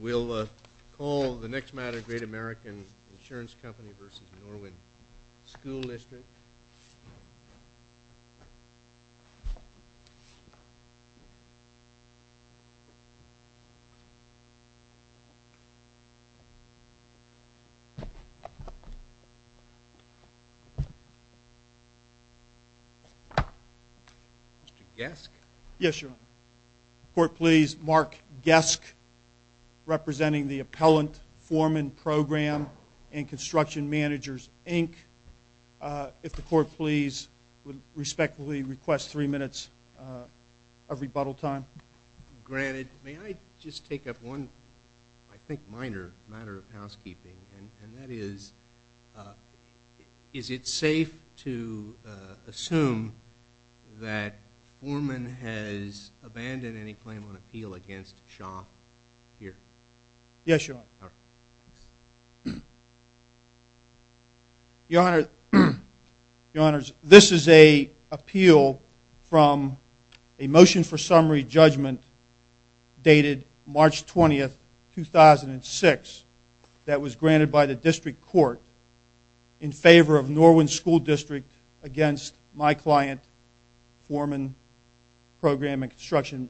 We'll call the next matter, Great American Insurance Company v. Norwin School District. Mr. Gesk? Yes, Your Honor. Court, please. Mark Gesk, representing the Appellant Foreman Program and Construction Managers, Inc. If the Court, please, would respectfully request three minutes of rebuttal time. Granted, may I just take up one, I think, minor matter of housekeeping? And that is, is it safe to assume that Foreman has abandoned any claim on appeal against Shoff here? Yes, Your Honor. All right. Your Honor, this is an appeal from a motion for summary judgment dated March 20, 2006, that was granted by the District Court in favor of Norwin School District against my client, Foreman Program and Construction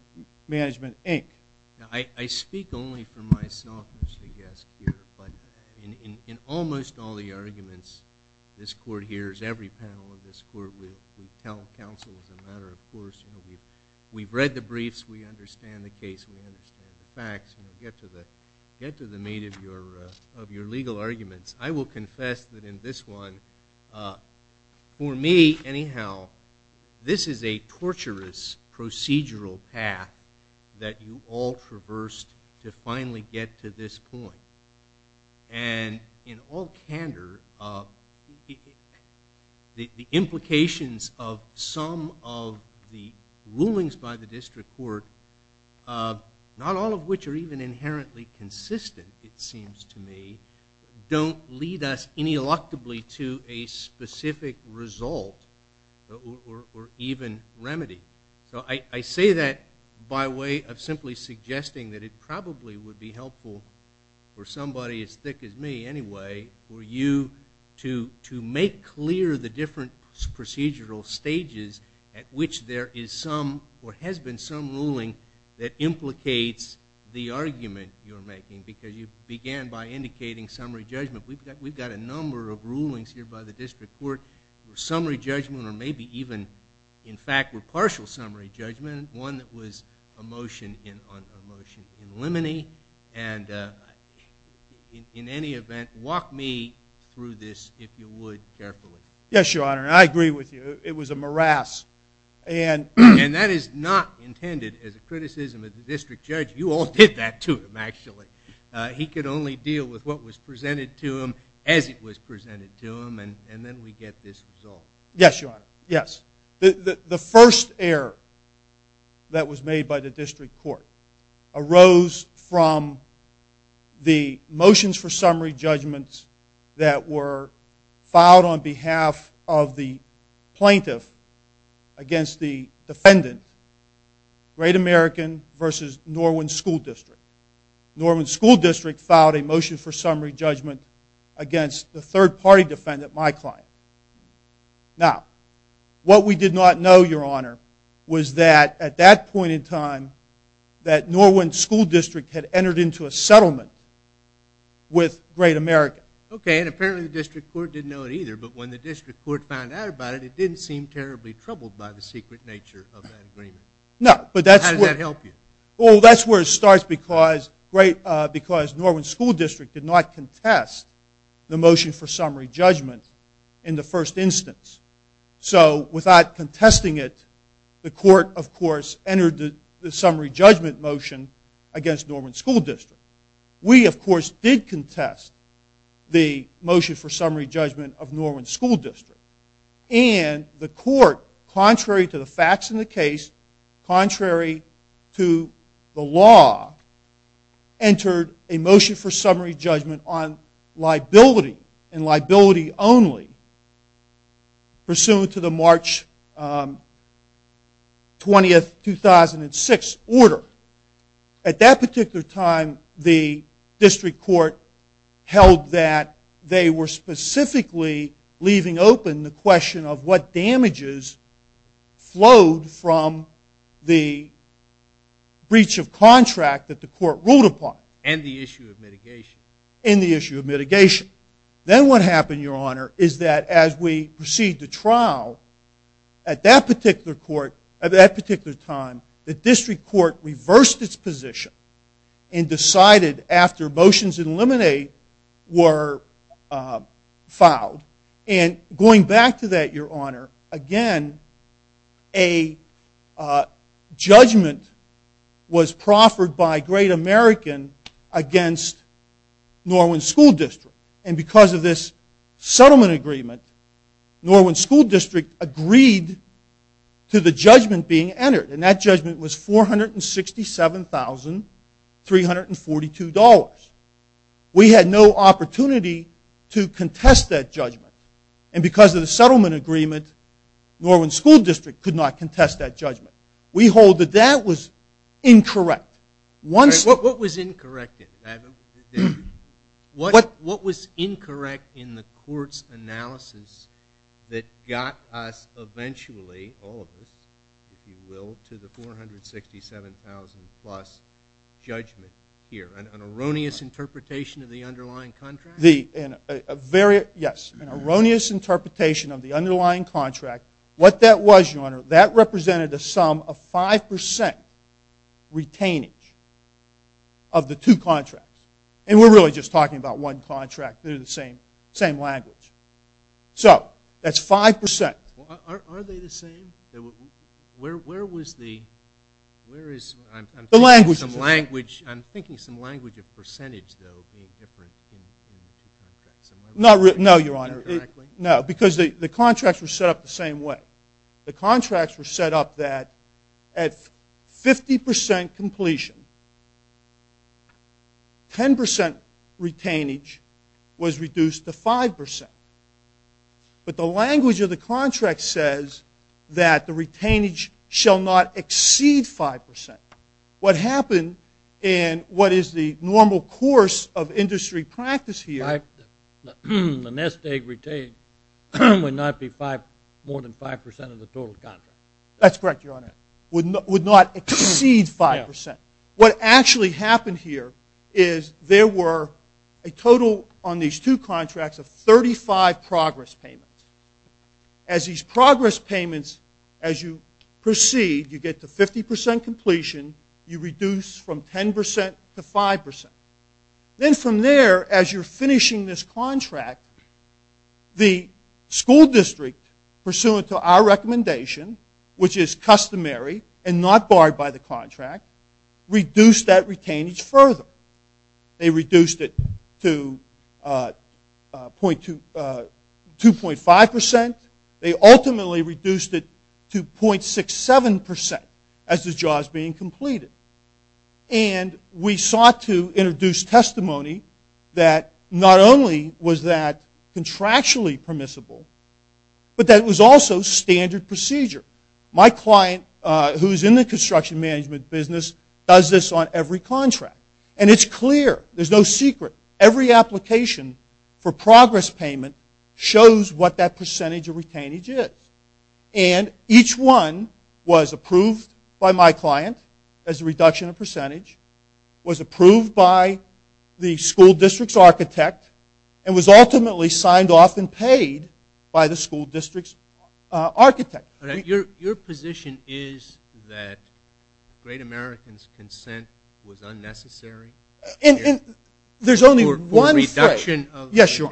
Management, Inc. I speak only for myself, Mr. Gesk, here, but in almost all the arguments this Court hears, every panel of this Court, we tell counsel as a matter of course, we've read the briefs, we understand the case, we understand the facts, and we get to the meat of your legal arguments. I will confess that in this one, for me, anyhow, this is a torturous procedural path that you all traversed to finally get to this point. And in all candor, the implications of some of the rulings by the District Court, not all of which are even inherently consistent, it seems to me, don't lead us ineluctably to a specific result or even remedy. So I say that by way of simply suggesting that it probably would be helpful for somebody as thick as me, anyway, for you to make clear the different procedural stages at which there is some or has been some ruling that implicates the argument you're making, because you began by indicating summary judgment. We've got a number of rulings here by the District Court where summary judgment, or maybe even in fact were partial summary judgment, one that was a motion in limine, and in any event, walk me through this, if you would, carefully. Yes, Your Honor, and I agree with you. It was a morass. And that is not intended as a criticism of the District Judge. You all did that to him, actually. He could only deal with what was presented to him as it was presented to him, and then we get this result. Yes, Your Honor, yes. The first error that was made by the District Court arose from the motions for summary judgments that were filed on behalf of the plaintiff against the defendant, Great American versus Norwin School District. Norwin School District filed a motion for summary judgment against the third-party defendant, my client. Now, what we did not know, Your Honor, was that at that point in time that Norwin School District had entered into a settlement with Great American. Okay, and apparently the District Court didn't know it either, but when the District Court found out about it, it didn't seem terribly troubled by the secret nature of that agreement. No. How did that help you? Well, that's where it starts, because Norwin School District did not contest the motion for summary judgment in the first instance. So without contesting it, the court, of course, entered the summary judgment motion against Norwin School District. We, of course, did contest the motion for summary judgment of Norwin School District, and the court, contrary to the facts in the case, contrary to the law, entered a motion for summary judgment on liability, and liability only, pursuant to the March 20, 2006 order. At that particular time, the District Court held that they were specifically leaving open the question of what damages flowed from the breach of contract that the court ruled upon. And the issue of mitigation. And the issue of mitigation. Then what happened, Your Honor, is that as we proceed to trial, at that particular time, the District Court reversed its position and decided after motions in limine were filed. And going back to that, Your Honor, again, a judgment was proffered by Great American against Norwin School District. And because of this settlement agreement, Norwin School District agreed to the judgment being entered. And that judgment was $467,342. We had no opportunity to contest that judgment. And because of the settlement agreement, Norwin School District could not contest that judgment. We hold that that was incorrect. What was incorrect in it? To the $467,000 plus judgment here. An erroneous interpretation of the underlying contract? Yes. An erroneous interpretation of the underlying contract. What that was, Your Honor, that represented a sum of 5% retainage of the two contracts. And we're really just talking about one contract. They're the same language. So that's 5%. Aren't they the same? Where was the... The language. I'm thinking some language of percentage, though, being different in the two contracts. No, Your Honor. No, because the contracts were set up the same way. The contracts were set up that at 50% completion, 10% retainage was reduced to 5%. But the language of the contract says that the retainage shall not exceed 5%. What happened in what is the normal course of industry practice here... The nest egg retained would not be more than 5% of the total contract. That's correct, Your Honor. Would not exceed 5%. What actually happened here is there were a total on these two contracts of 35 progress payments. As these progress payments, as you proceed, you get to 50% completion. You reduce from 10% to 5%. Then from there, as you're finishing this contract, the school district, pursuant to our recommendation, which is customary and not barred by the contract, reduced that retainage further. They reduced it to 2.5%. They ultimately reduced it to 0.67% as the jobs being completed. And we sought to introduce testimony that not only was that contractually permissible, but that it was also standard procedure. My client, who is in the construction management business, does this on every contract. And it's clear. There's no secret. Every application for progress payment shows what that percentage of retainage is. And each one was approved by my client as a reduction of percentage, was approved by the school district's architect, and was ultimately signed off and paid by the school district's architect. Your position is that Great American's consent was unnecessary? And there's only one phrase. Yes, sure.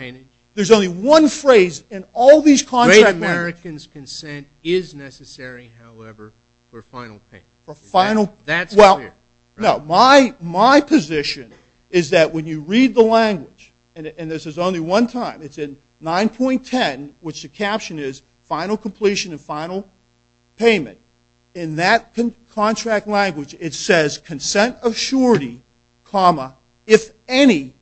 There's only one phrase in all these contracts. Great American's consent is necessary, however, for final payment. For final. That's clear. No, my position is that when you read the language, and this is only one time, it's in 9.10, which the caption is, final completion and final payment. In that contract language, it says, consent of surety, if any,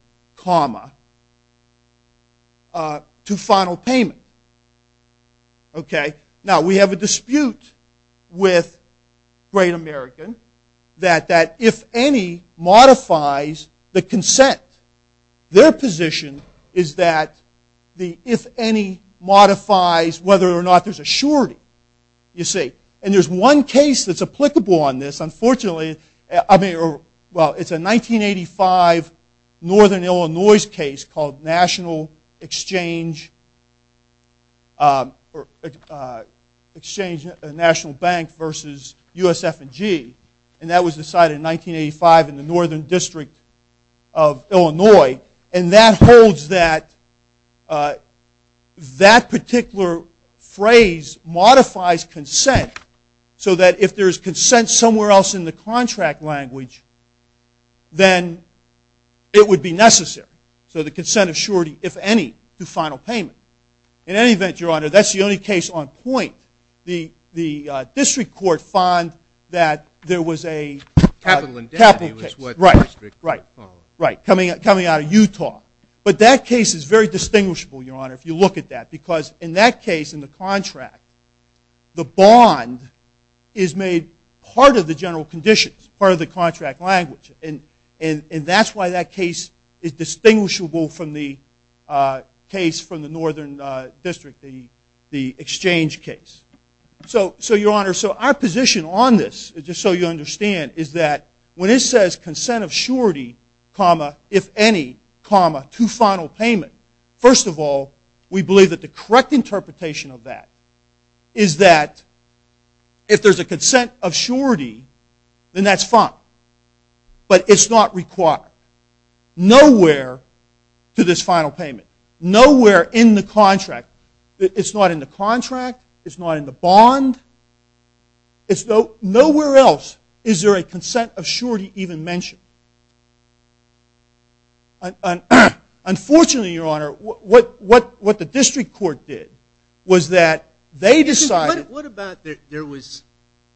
to final payment. Okay. Now, we have a dispute with Great American that that if any modifies the consent. Their position is that the if any modifies whether or not there's a surety. You see. And there's one case that's applicable on this, unfortunately. Well, it's a 1985 Northern Illinois case called National Exchange, National Bank versus USF&G. And that was decided in 1985 in the Northern District of Illinois. And that holds that that particular phrase modifies consent, so that if there's consent somewhere else in the contract language, then it would be necessary. So the consent of surety, if any, to final payment. In any event, Your Honor, that's the only case on point. The district court found that there was a capital case. Capital indemnity was what the district court followed. Right. Coming out of Utah. But that case is very distinguishable, Your Honor, if you look at that. Because in that case, in the contract, the bond is made part of the general conditions, part of the contract language. And that's why that case is distinguishable from the case from the Northern District, the exchange case. So, Your Honor, so our position on this, just so you understand, is that when it says consent of surety, if any, to final payment, first of all, we believe that the correct interpretation of that is that if there's a consent of surety, then that's fine. But it's not required. Nowhere to this final payment. Nowhere in the contract. It's not in the contract. It's not in the bond. Nowhere else is there a consent of surety even mentioned. Unfortunately, Your Honor, what the district court did was that they decided. What about there was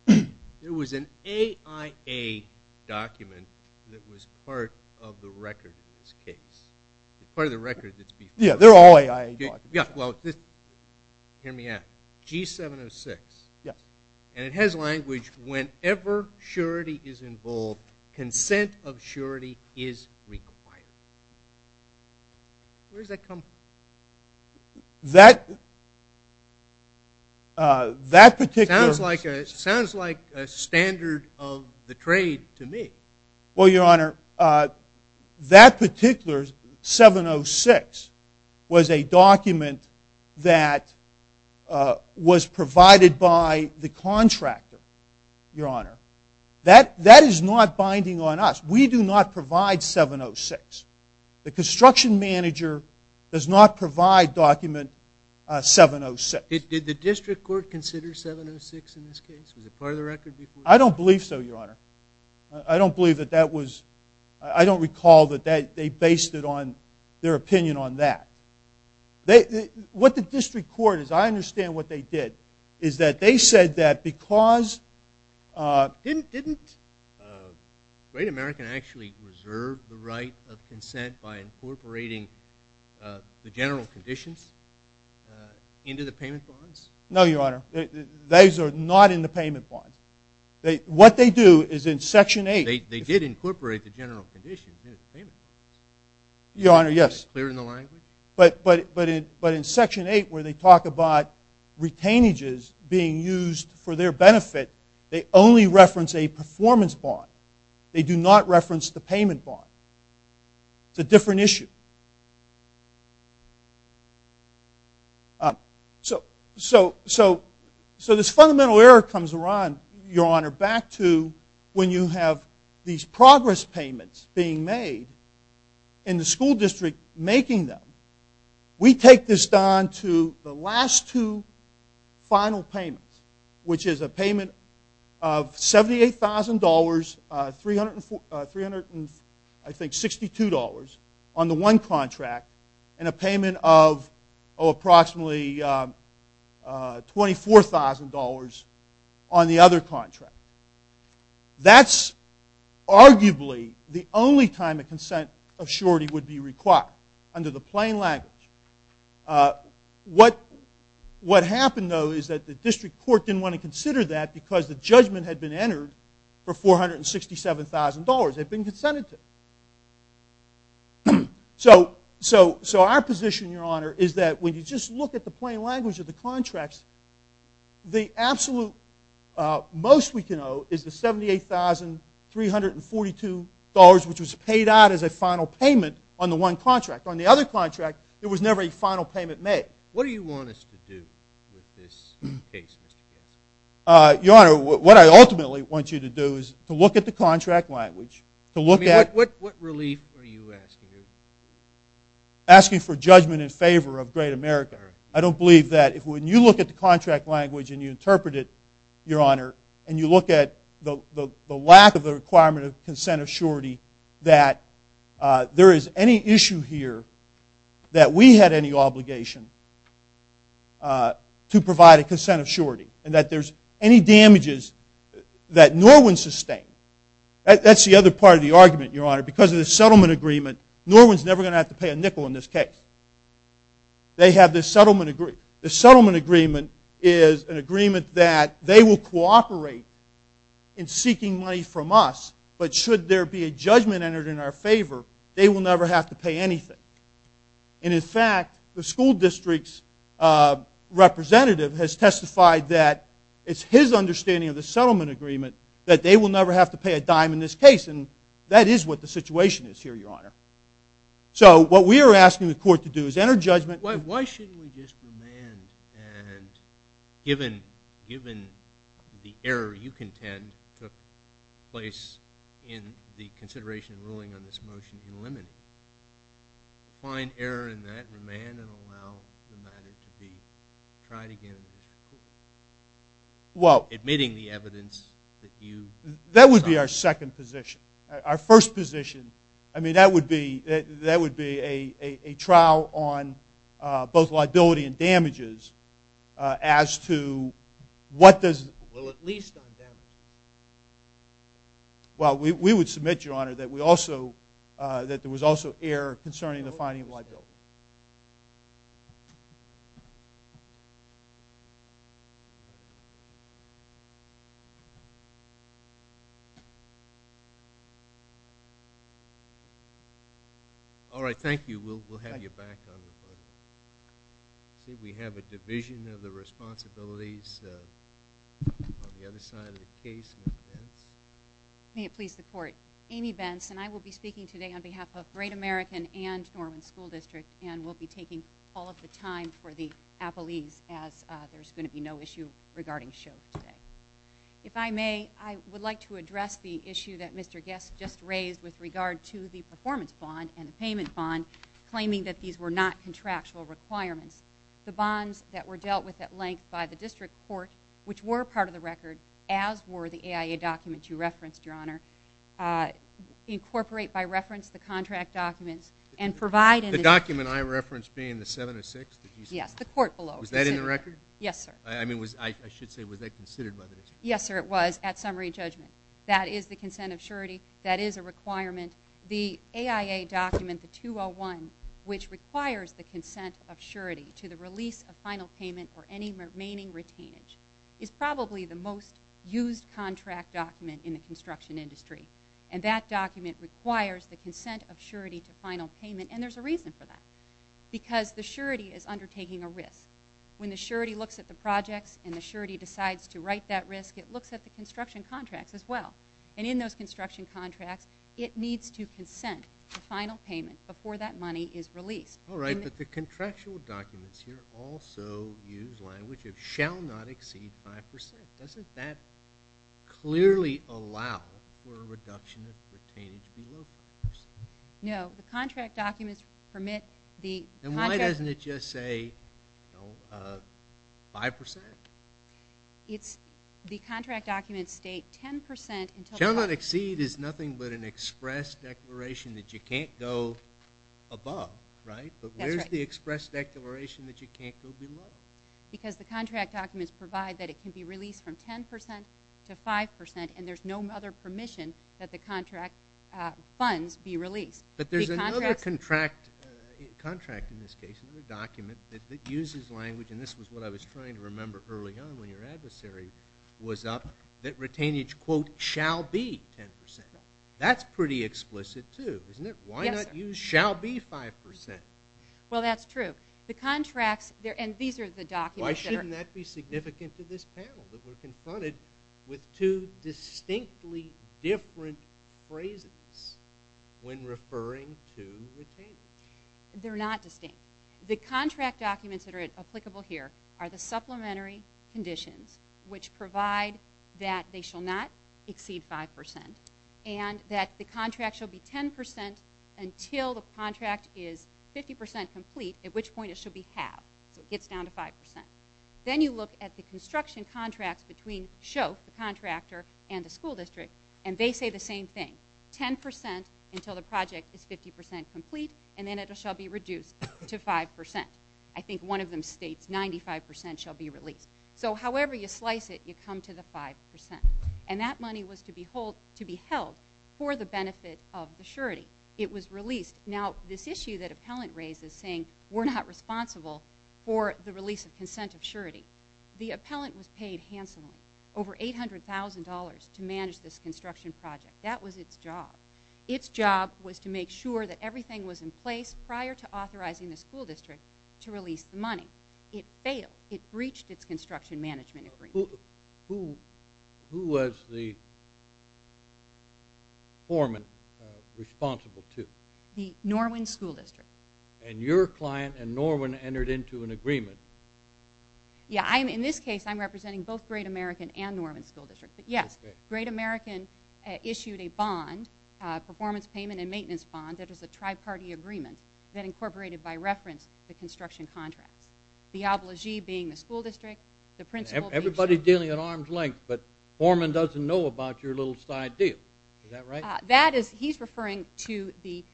an AIA document that was part of the record of this case? Part of the record that's before us. Yeah, they're all AIA documents. Yeah, well, hear me out. G706. Yes. And it has language, whenever surety is involved, consent of surety is required. Where does that come from? That particular. Sounds like a standard of the trade to me. Well, Your Honor, that particular 706 was a document that was provided by the contractor, Your Honor. That is not binding on us. We do not provide 706. The construction manager does not provide document 706. Did the district court consider 706 in this case? Was it part of the record before? I don't believe so, Your Honor. I don't believe that that was. I don't recall that they based it on their opinion on that. What the district court, as I understand what they did, is that they said that because. Didn't Great American actually reserve the right of consent by incorporating the general conditions into the payment bonds? No, Your Honor. Those are not in the payment bonds. What they do is in Section 8. They did incorporate the general conditions into the payment bonds. Your Honor, yes. Is that clear in the language? But in Section 8 where they talk about retainages being used for their benefit, they only reference a performance bond. They do not reference the payment bond. It's a different issue. So this fundamental error comes around, Your Honor, back to when you have these progress payments being made and the school district making them. We take this down to the last two final payments, which is a payment of $78,000, I think $362 on the one contract and a payment of approximately $24,000 on the other contract. That's arguably the only time a consent of surety would be required under the plain language. What happened, though, is that the district court didn't want to consider that because the judgment had been entered for $467,000. They've been consented to. So our position, Your Honor, is that when you just look at the plain language of the contracts, the absolute most we can owe is the $78,342, which was paid out as a final payment on the one contract. On the other contract, there was never a final payment made. What do you want us to do with this case, Mr. Gaskin? Your Honor, what I ultimately want you to do is to look at the contract language. What relief are you asking for? Asking for judgment in favor of Great America. I don't believe that. When you look at the contract language and you interpret it, Your Honor, and you look at the lack of the requirement of consent of surety, that there is any issue here that we had any obligation to provide a consent of surety and that there's any damages that Norwin sustained. That's the other part of the argument, Your Honor. Because of the settlement agreement, Norwin's never going to have to pay a nickel in this case. They have this settlement agreement. The settlement agreement is an agreement that they will cooperate in seeking money from us, but should there be a judgment entered in our favor, they will never have to pay anything. And, in fact, the school district's representative has testified that it's his understanding of the settlement agreement that they will never have to pay a dime in this case, and that is what the situation is here, Your Honor. So what we are asking the court to do is enter judgment. Why shouldn't we just remand and, given the error you contend took place in the consideration and ruling on this motion, eliminate it? Find error in that, remand, and allow the matter to be tried again in the district court? Well... Admitting the evidence that you... That would be our second position. Our first position. I mean, that would be a trial on both liability and damages as to what does... Well, at least on damages. Well, we would submit, Your Honor, that there was also error concerning the finding of liability. All right, thank you. We'll have you back, Your Honor. See, we have a division of the responsibilities on the other side of the case. May it please the court. Amy Benz, and I will be speaking today on behalf of Great American and Norman School District, and will be taking all of the time for the appellees, as there's going to be no issue regarding show today. If I may, I would like to address the issue that Mr. Guest just raised with regard to the performance bond and the payment bond, claiming that these were not contractual requirements. The bonds that were dealt with at length by the district court, which were part of the record, as were the AIA documents you referenced, Your Honor, incorporate by reference the contract documents and provide... The document I referenced being the 706? Yes, the court below. Was that in the record? Yes, sir. I mean, I should say, was that considered by the district court? Yes, sir, it was at summary judgment. That is the consent of surety. That is a requirement. The AIA document, the 201, which requires the consent of surety to the release of final payment or any remaining retainage, is probably the most used contract document in the construction industry, and that document requires the consent of surety to final payment, and there's a reason for that, because the surety is undertaking a risk. When the surety looks at the projects and the surety decides to right that risk, it looks at the construction contracts as well, and in those construction contracts, it needs to consent to final payment before that money is released. All right, but the contractual documents here also use language of shall not exceed 5%. Doesn't that clearly allow for a reduction of retainage below 5%? No. The contract documents permit the contract... 5%? The contract documents state 10% until... Shall not exceed is nothing but an express declaration that you can't go above, right? That's right. But where's the express declaration that you can't go below? Because the contract documents provide that it can be released from 10% to 5%, and there's no other permission that the contract funds be released. But there's another contract in this case, another document that uses language, and this was what I was trying to remember early on when your adversary was up, that retainage, quote, shall be 10%. That's pretty explicit too, isn't it? Yes, sir. Why not use shall be 5%? Well, that's true. The contracts, and these are the documents that are... Why shouldn't that be significant to this panel, that we're confronted with two distinctly different phrases when referring to retainage? They're not distinct. The contract documents that are applicable here are the supplementary conditions, which provide that they shall not exceed 5% and that the contract shall be 10% until the contract is 50% complete, at which point it shall be halved, so it gets down to 5%. Then you look at the construction contracts between SHO, the contractor, and the school district, and they say the same thing, 10% until the project is 50% complete, and then it shall be reduced to 5%. I think one of them states 95% shall be released. So however you slice it, you come to the 5%, and that money was to be held for the benefit of the surety. It was released. Now, this issue that appellant raised is saying we're not responsible for the release of consent of surety. The appellant was paid handsomely, over $800,000 to manage this construction project. That was its job. Its job was to make sure that everything was in place prior to authorizing the school district to release the money. It failed. It breached its construction management agreement. Who was the foreman responsible to? The Norwin School District. And your client and Norwin entered into an agreement? Yeah. In this case, I'm representing both Great American and Norwin School District. But, yes, Great American issued a bond, a performance payment and maintenance bond that is a tri-party agreement that incorporated by reference the construction contracts, the obligee being the school district, the principal being school district. Everybody's dealing at arm's length, but foreman doesn't know about your little side deal. Is that right? That is he's referring to the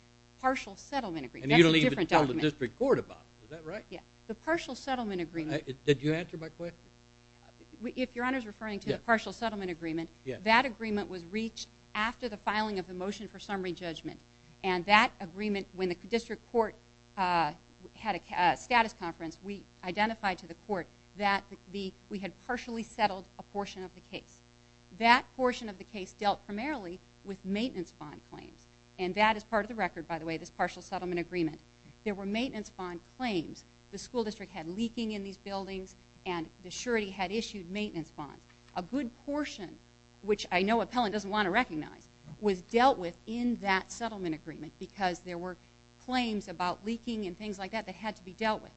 partial settlement agreement. That's a different document. And you don't even tell the district court about it. Is that right? Yeah. The partial settlement agreement. Did you answer my question? If your Honor is referring to the partial settlement agreement, that agreement was reached after the filing of the motion for summary judgment. And that agreement, when the district court had a status conference, we identified to the court that we had partially settled a portion of the case. That portion of the case dealt primarily with maintenance bond claims. And that is part of the record, by the way, this partial settlement agreement. There were maintenance bond claims. The school district had leaking in these buildings and the surety had issued maintenance bond. A good portion, which I know appellant doesn't want to recognize, was dealt with in that settlement agreement because there were claims about leaking and things like that that had to be dealt with.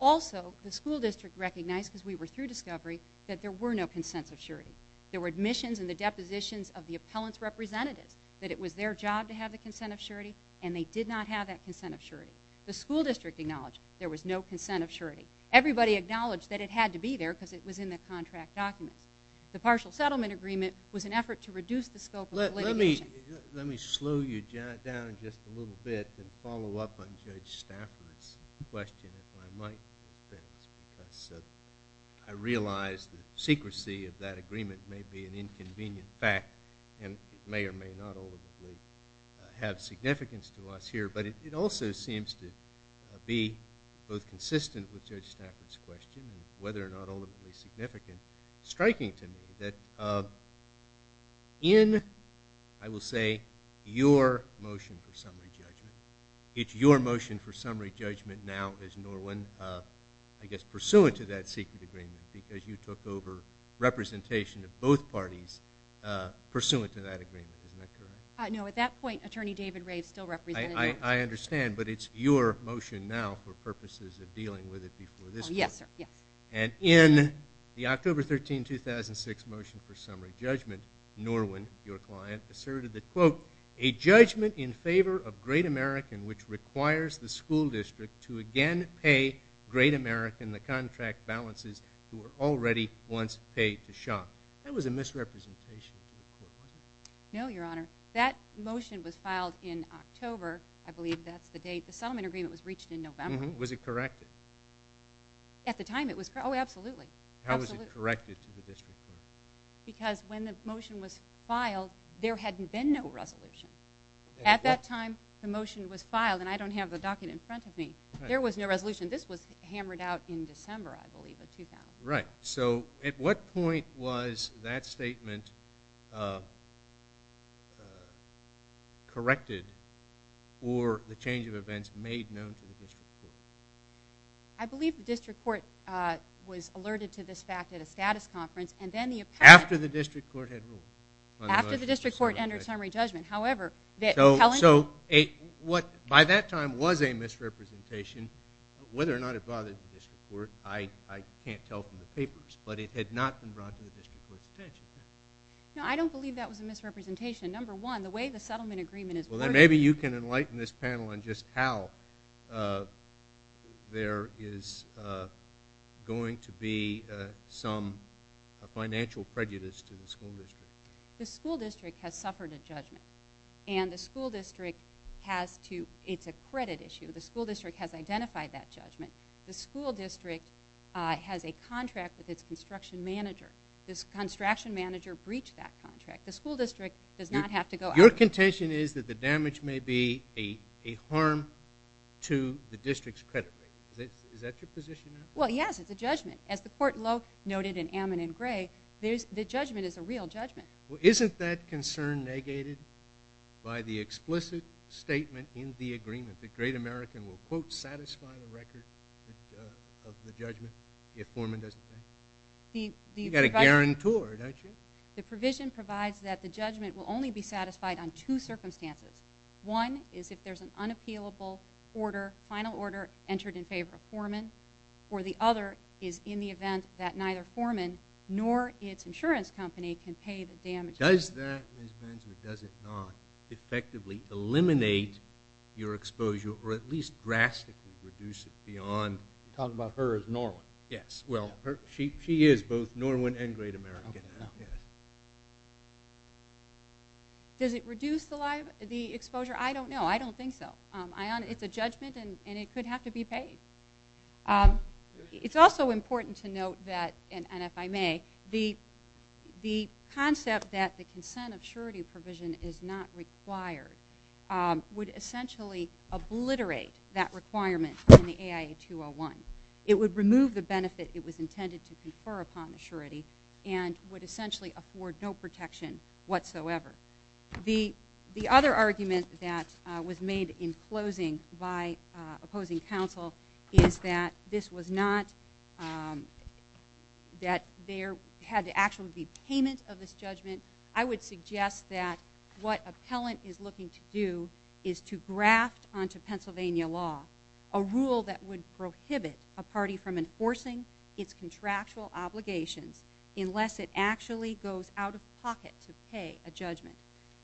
Also, the school district recognized, because we were through discovery, that there were no consents of surety. There were admissions and the depositions of the appellant's representatives that it was their job to have the consent of surety, and they did not have that consent of surety. The school district acknowledged there was no consent of surety. Everybody acknowledged that it had to be there because it was in the contract documents. The partial settlement agreement was an effort to reduce the scope of the litigation. Let me slow you down just a little bit and follow up on Judge Stafford's question, if I might, because I realize the secrecy of that agreement may be an inconvenient fact and may or may not ultimately have significance to us here. But it also seems to be both consistent with Judge Stafford's question and whether or not ultimately significant. It's striking to me that in, I will say, your motion for summary judgment, it's your motion for summary judgment now as Norwin, I guess, pursuant to that secret agreement because you took over representation of both parties pursuant to that agreement. Isn't that correct? No, at that point, Attorney David Rave still represented Norwin. I understand, but it's your motion now for purposes of dealing with it before this court. Yes, sir. And in the October 13, 2006 motion for summary judgment, Norwin, your client, asserted that, quote, a judgment in favor of Great American, which requires the school district to again pay Great American the contract balances who were already once paid to Shaw. That was a misrepresentation. No, Your Honor. That motion was filed in October. I believe that's the date. The settlement agreement was reached in November. Was it corrected? At the time, it was. Oh, absolutely. How was it corrected to the district court? Because when the motion was filed, there hadn't been no resolution. At that time, the motion was filed, and I don't have the document in front of me. There was no resolution. This was hammered out in December, I believe, of 2000. Right. So at what point was that statement corrected for the change of events made known to the district court? I believe the district court was alerted to this fact at a status conference, and then the appellant. After the district court had ruled. After the district court entered summary judgment. However, the appellant. So by that time was a misrepresentation. Whether or not it bothered the district court, I can't tell from the papers, but it had not been brought to the district court's attention. No, I don't believe that was a misrepresentation. Number one, the way the settlement agreement is working. Well, then maybe you can enlighten this panel on just how there is going to be some financial prejudice to the school district. The school district has suffered a judgment, and the school district has to – it's a credit issue. The school district has identified that judgment. The school district has a contract with its construction manager. This construction manager breached that contract. The school district does not have to go out. Your contention is that the damage may be a harm to the district's credit rate. Is that your position now? Well, yes, it's a judgment. As the court noted in Ammon and Gray, the judgment is a real judgment. Well, isn't that concern negated by the explicit statement in the agreement that Great American will, quote, satisfy the record of the judgment if Foreman doesn't pay? You've got a guarantor, don't you? The provision provides that the judgment will only be satisfied on two circumstances. One is if there's an unappealable order, final order, entered in favor of Foreman, or the other is in the event that neither Foreman nor its insurance company can pay the damage. Does that, Ms. Benjamin, does it not effectively eliminate your exposure or at least drastically reduce it beyond? You're talking about her as Norwin. Yes, well, she is both Norwin and Great American. Does it reduce the exposure? I don't know. I don't think so. It's a judgment, and it could have to be paid. It's also important to note that, and if I may, the concept that the consent of surety provision is not required would essentially obliterate that requirement in the AIA-201. It would remove the benefit it was intended to confer upon the surety and would essentially afford no protection whatsoever. The other argument that was made in closing by opposing counsel is that this was not that there had to actually be payment of this judgment. I would suggest that what appellant is looking to do is to graft onto Pennsylvania law a rule that would prohibit a party from enforcing its contractual obligations unless it actually goes out of pocket to pay a judgment.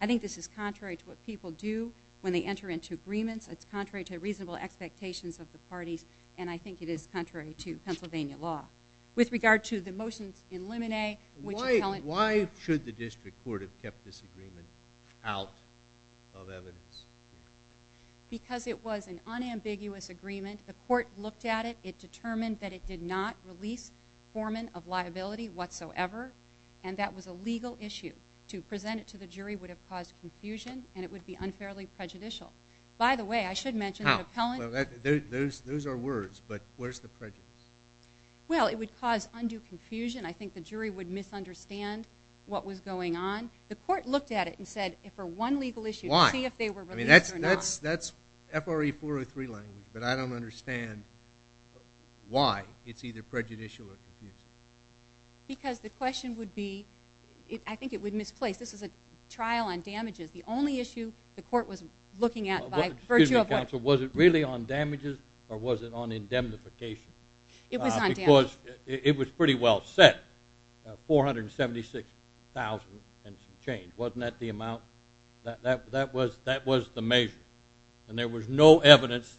I think this is contrary to what people do when they enter into agreements. It's contrary to reasonable expectations of the parties, and I think it is contrary to Pennsylvania law. With regard to the motions in limine, which appellant did not… Why should the district court have kept this agreement out of evidence? Because it was an unambiguous agreement. The court looked at it. It determined that it did not release foreman of liability whatsoever, and that was a legal issue. To present it to the jury would have caused confusion, and it would be unfairly prejudicial. By the way, I should mention that appellant… Those are words, but where's the prejudice? Well, it would cause undue confusion. I think the jury would misunderstand what was going on. The court looked at it and said, for one legal issue, see if they were released or not. That's FRA 403 language, but I don't understand why it's either prejudicial or confusing. Because the question would be, I think it would misplace. This is a trial on damages. The only issue the court was looking at by virtue of what… Was it really on damages or was it on indemnification? It was on damages. Because it was pretty well set, $476,000 and some change. Wasn't that the amount? That was the measure, and there was no evidence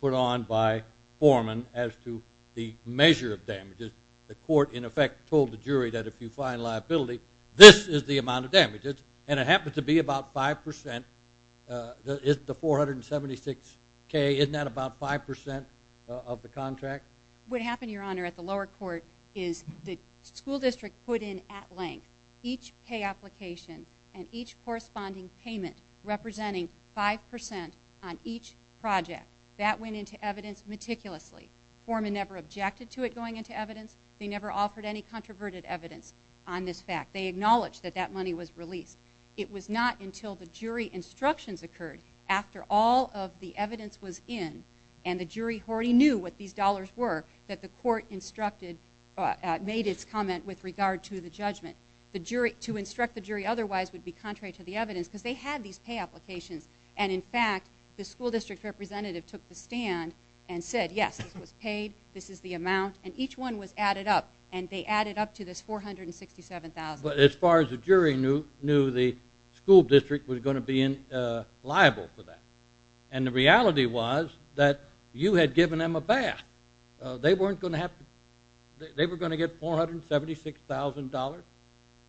put on by foreman as to the measure of damages. The court, in effect, told the jury that if you find liability, this is the amount of damages, and it happened to be about 5%. The $476,000, isn't that about 5% of the contract? What happened, Your Honor, at the lower court is the school district put in at length each pay application and each corresponding payment representing 5% on each project. That went into evidence meticulously. Foreman never objected to it going into evidence. They never offered any controverted evidence on this fact. They acknowledged that that money was released. It was not until the jury instructions occurred after all of the evidence was in and the jury already knew what these dollars were that the court instructed, made its comment with regard to the judgment. To instruct the jury otherwise would be contrary to the evidence because they had these pay applications. In fact, the school district representative took the stand and said, yes, this was paid, this is the amount, and each one was added up, and they added up to this $467,000. As far as the jury knew, the school district was going to be liable for that. And the reality was that you had given them a bath. They were going to get $476,000.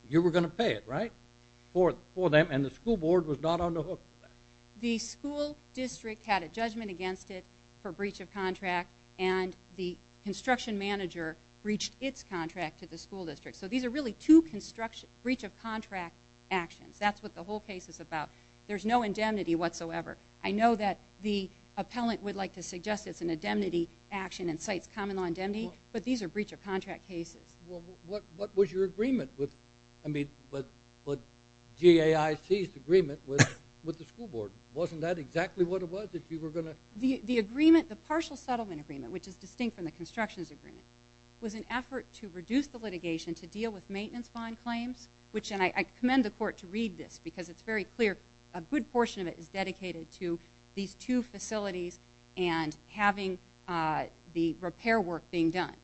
You were going to pay it, right, for them, and the school board was not on the hook for that. The school district had a judgment against it for breach of contract, and the construction manager breached its contract to the school district. So these are really two breach of contract actions. That's what the whole case is about. There's no indemnity whatsoever. I know that the appellant would like to suggest it's an indemnity action and cites common law indemnity, but these are breach of contract cases. What was your agreement with GAIC's agreement with the school board? Wasn't that exactly what it was that you were going to? The agreement, the partial settlement agreement, which is distinct from the constructions agreement, was an effort to reduce the litigation to deal with maintenance bond claims, which I commend the court to read this because it's very clear. A good portion of it is dedicated to these two facilities and having the repair work being done.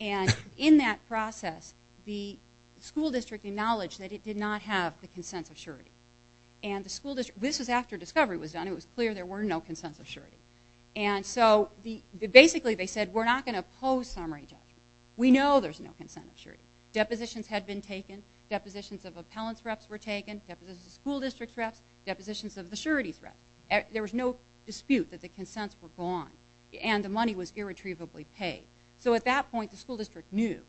And in that process, the school district acknowledged that it did not have the consent of surety. This was after discovery was done. It was clear there were no consents of surety. And so basically they said, we're not going to oppose summary judgment. We know there's no consent of surety. Depositions had been taken. Depositions of appellant's reps were taken. Depositions of school district's reps. Depositions of the surety's reps. There was no dispute that the consents were gone and the money was irretrievably paid. So at that point, the school district knew.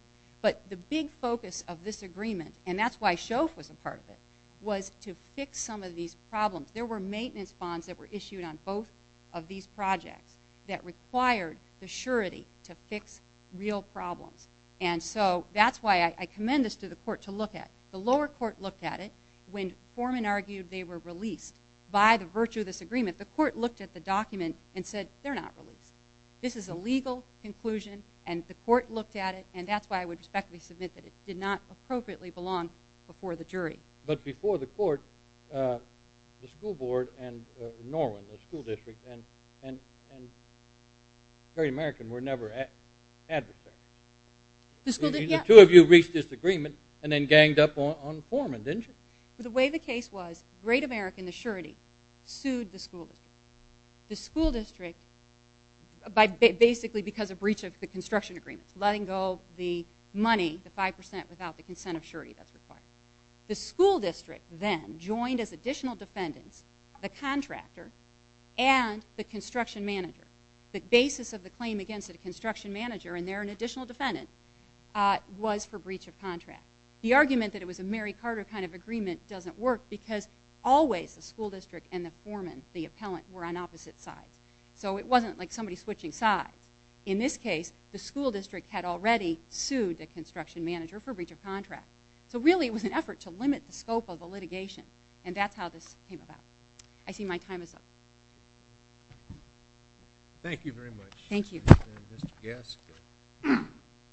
But the big focus of this agreement, and that's why Shoaff was a part of it, was to fix some of these problems. There were maintenance bonds that were issued on both of these projects that required the surety to fix real problems. And so that's why I commend this to the court to look at. The lower court looked at it. When Forman argued they were released by the virtue of this agreement, the court looked at the document and said, they're not released. This is a legal conclusion, and the court looked at it, and that's why I would respectfully submit that it did not appropriately belong before the jury. But before the court, the school board and Norwin, the school district, and Perry American were never adversaries. The school didn't yet. The two of you reached this agreement and then ganged up on Forman, didn't you? The way the case was, Great American, the surety, sued the school district. The school district, basically because of breach of the construction agreement, letting go the money, the 5%, without the consent of surety that's required. The school district then joined as additional defendants the contractor and the construction manager. The basis of the claim against the construction manager, and they're an additional defendant, was for breach of contract. The argument that it was a Mary Carter kind of agreement doesn't work because always the school district and the Foreman, the appellant, were on opposite sides. So it wasn't like somebody switching sides. In this case, the school district had already sued the construction manager for breach of contract. So really it was an effort to limit the scope of the litigation, and that's how this came about. I see my time is up. Thank you very much. Thank you. Mr. Gaskin.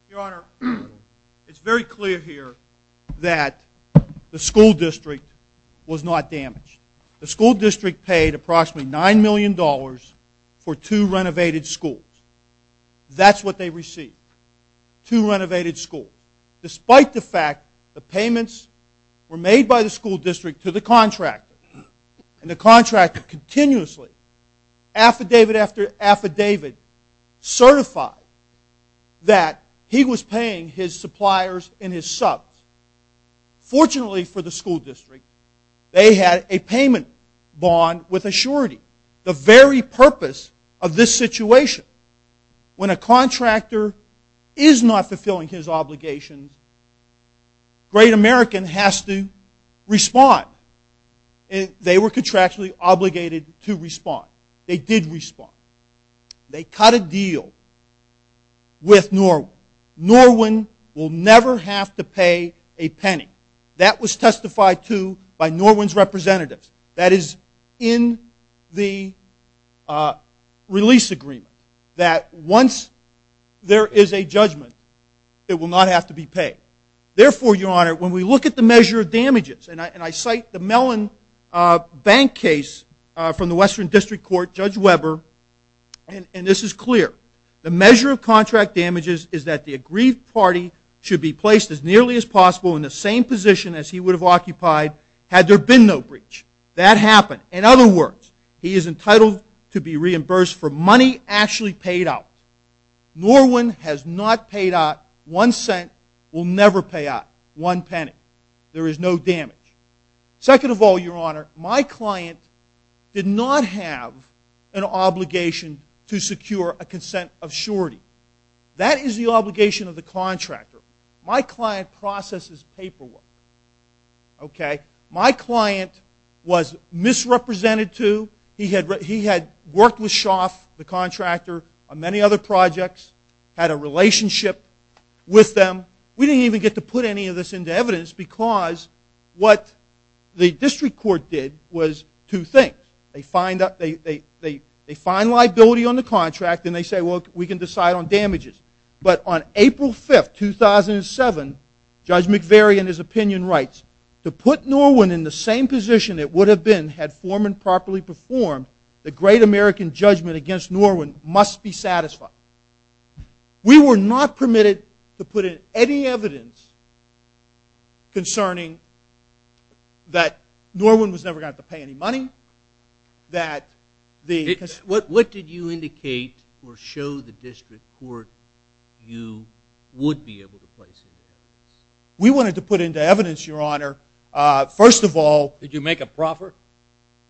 Your Honor, it's very clear here that the school district was not damaged. The school district paid approximately $9 million for two renovated schools. That's what they received, two renovated schools, despite the fact the payments were made by the school district to the contractor. And the contractor continuously, affidavit after affidavit, certified that he was paying his suppliers and his subs. Fortunately for the school district, they had a payment bond with assurity, the very purpose of this situation. When a contractor is not fulfilling his obligations, Great American has to respond. They were contractually obligated to respond. They did respond. They cut a deal with Norwin. Norwin will never have to pay a penny. That was testified to by Norwin's representatives. That is in the release agreement, that once there is a judgment, it will not have to be paid. Therefore, Your Honor, when we look at the measure of damages, and I cite the Mellon Bank case from the Western District Court, Judge Weber, and this is clear. The measure of contract damages is that the aggrieved party should be placed as nearly as possible in the same position as he would have occupied had there been no breach. That happened. In other words, he is entitled to be reimbursed for money actually paid out. Norwin has not paid out one cent, will never pay out one penny. There is no damage. Second of all, Your Honor, my client did not have an obligation to secure a consent of surety. That is the obligation of the contractor. My client processes paperwork. My client was misrepresented to. He had worked with Schaaf, the contractor, on many other projects, had a relationship with them. We didn't even get to put any of this into evidence because what the District Court did was two things. They find liability on the contract, and they say, well, we can decide on damages. But on April 5, 2007, Judge McVeary, in his opinion, writes, to put Norwin in the same position it would have been had Foreman properly performed, the great American judgment against Norwin must be satisfied. We were not permitted to put in any evidence concerning that Norwin was never going to have to pay any money. What did you indicate or show the District Court you would be able to place into evidence? We wanted to put into evidence, Your Honor, first of all. Did you make a proffer?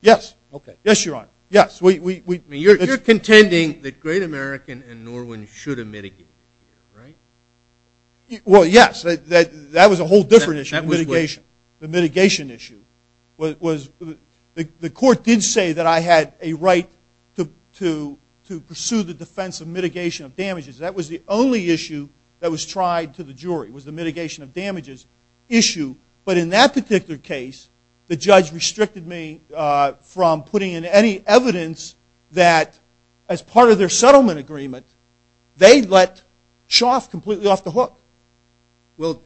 Yes. Okay. Yes, Your Honor. You're contending that great American and Norwin should have mitigated, right? Well, yes. That was a whole different issue, the mitigation issue. That was the only issue that was tried to the jury, was the mitigation of damages issue. But in that particular case, the judge restricted me from putting in any evidence that as part of their settlement agreement, they let Choff completely off the hook. Well,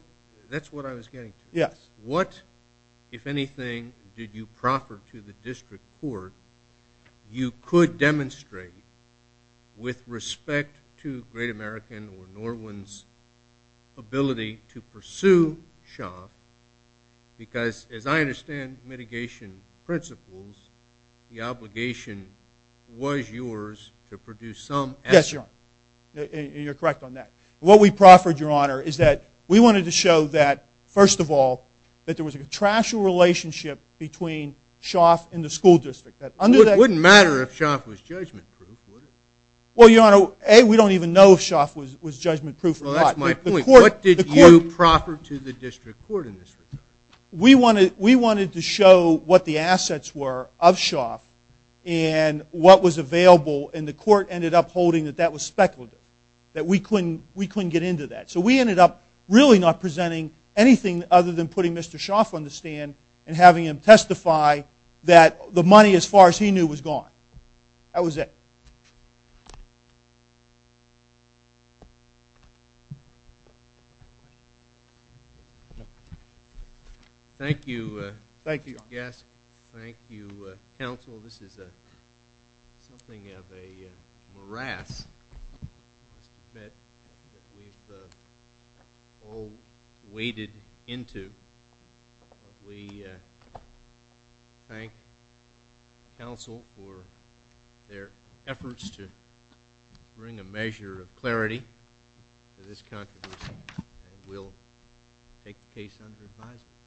that's what I was getting to. Yes. What, if anything, did you proffer to the District Court you could demonstrate with respect to great American or Norwin's ability to pursue Choff? Because as I understand mitigation principles, the obligation was yours to produce some estimate. Yes, Your Honor. You're correct on that. What we proffered, Your Honor, is that we wanted to show that, first of all, that there was a contractual relationship between Choff and the school district. It wouldn't matter if Choff was judgment-proof, would it? Well, Your Honor, A, we don't even know if Choff was judgment-proof or not. Well, that's my point. What did you proffer to the District Court in this regard? We wanted to show what the assets were of Choff and what was available, and the court ended up holding that that was speculative, that we couldn't get into that. So we ended up really not presenting anything other than putting Mr. Choff on the stand and having him testify that the money, as far as he knew, was gone. That was it. Thank you. Thank you, counsel. Counsel, this is something of a morass that we've all waded into. We thank counsel for their efforts to bring a measure of clarity to this controversy, and we'll take the case under advisement.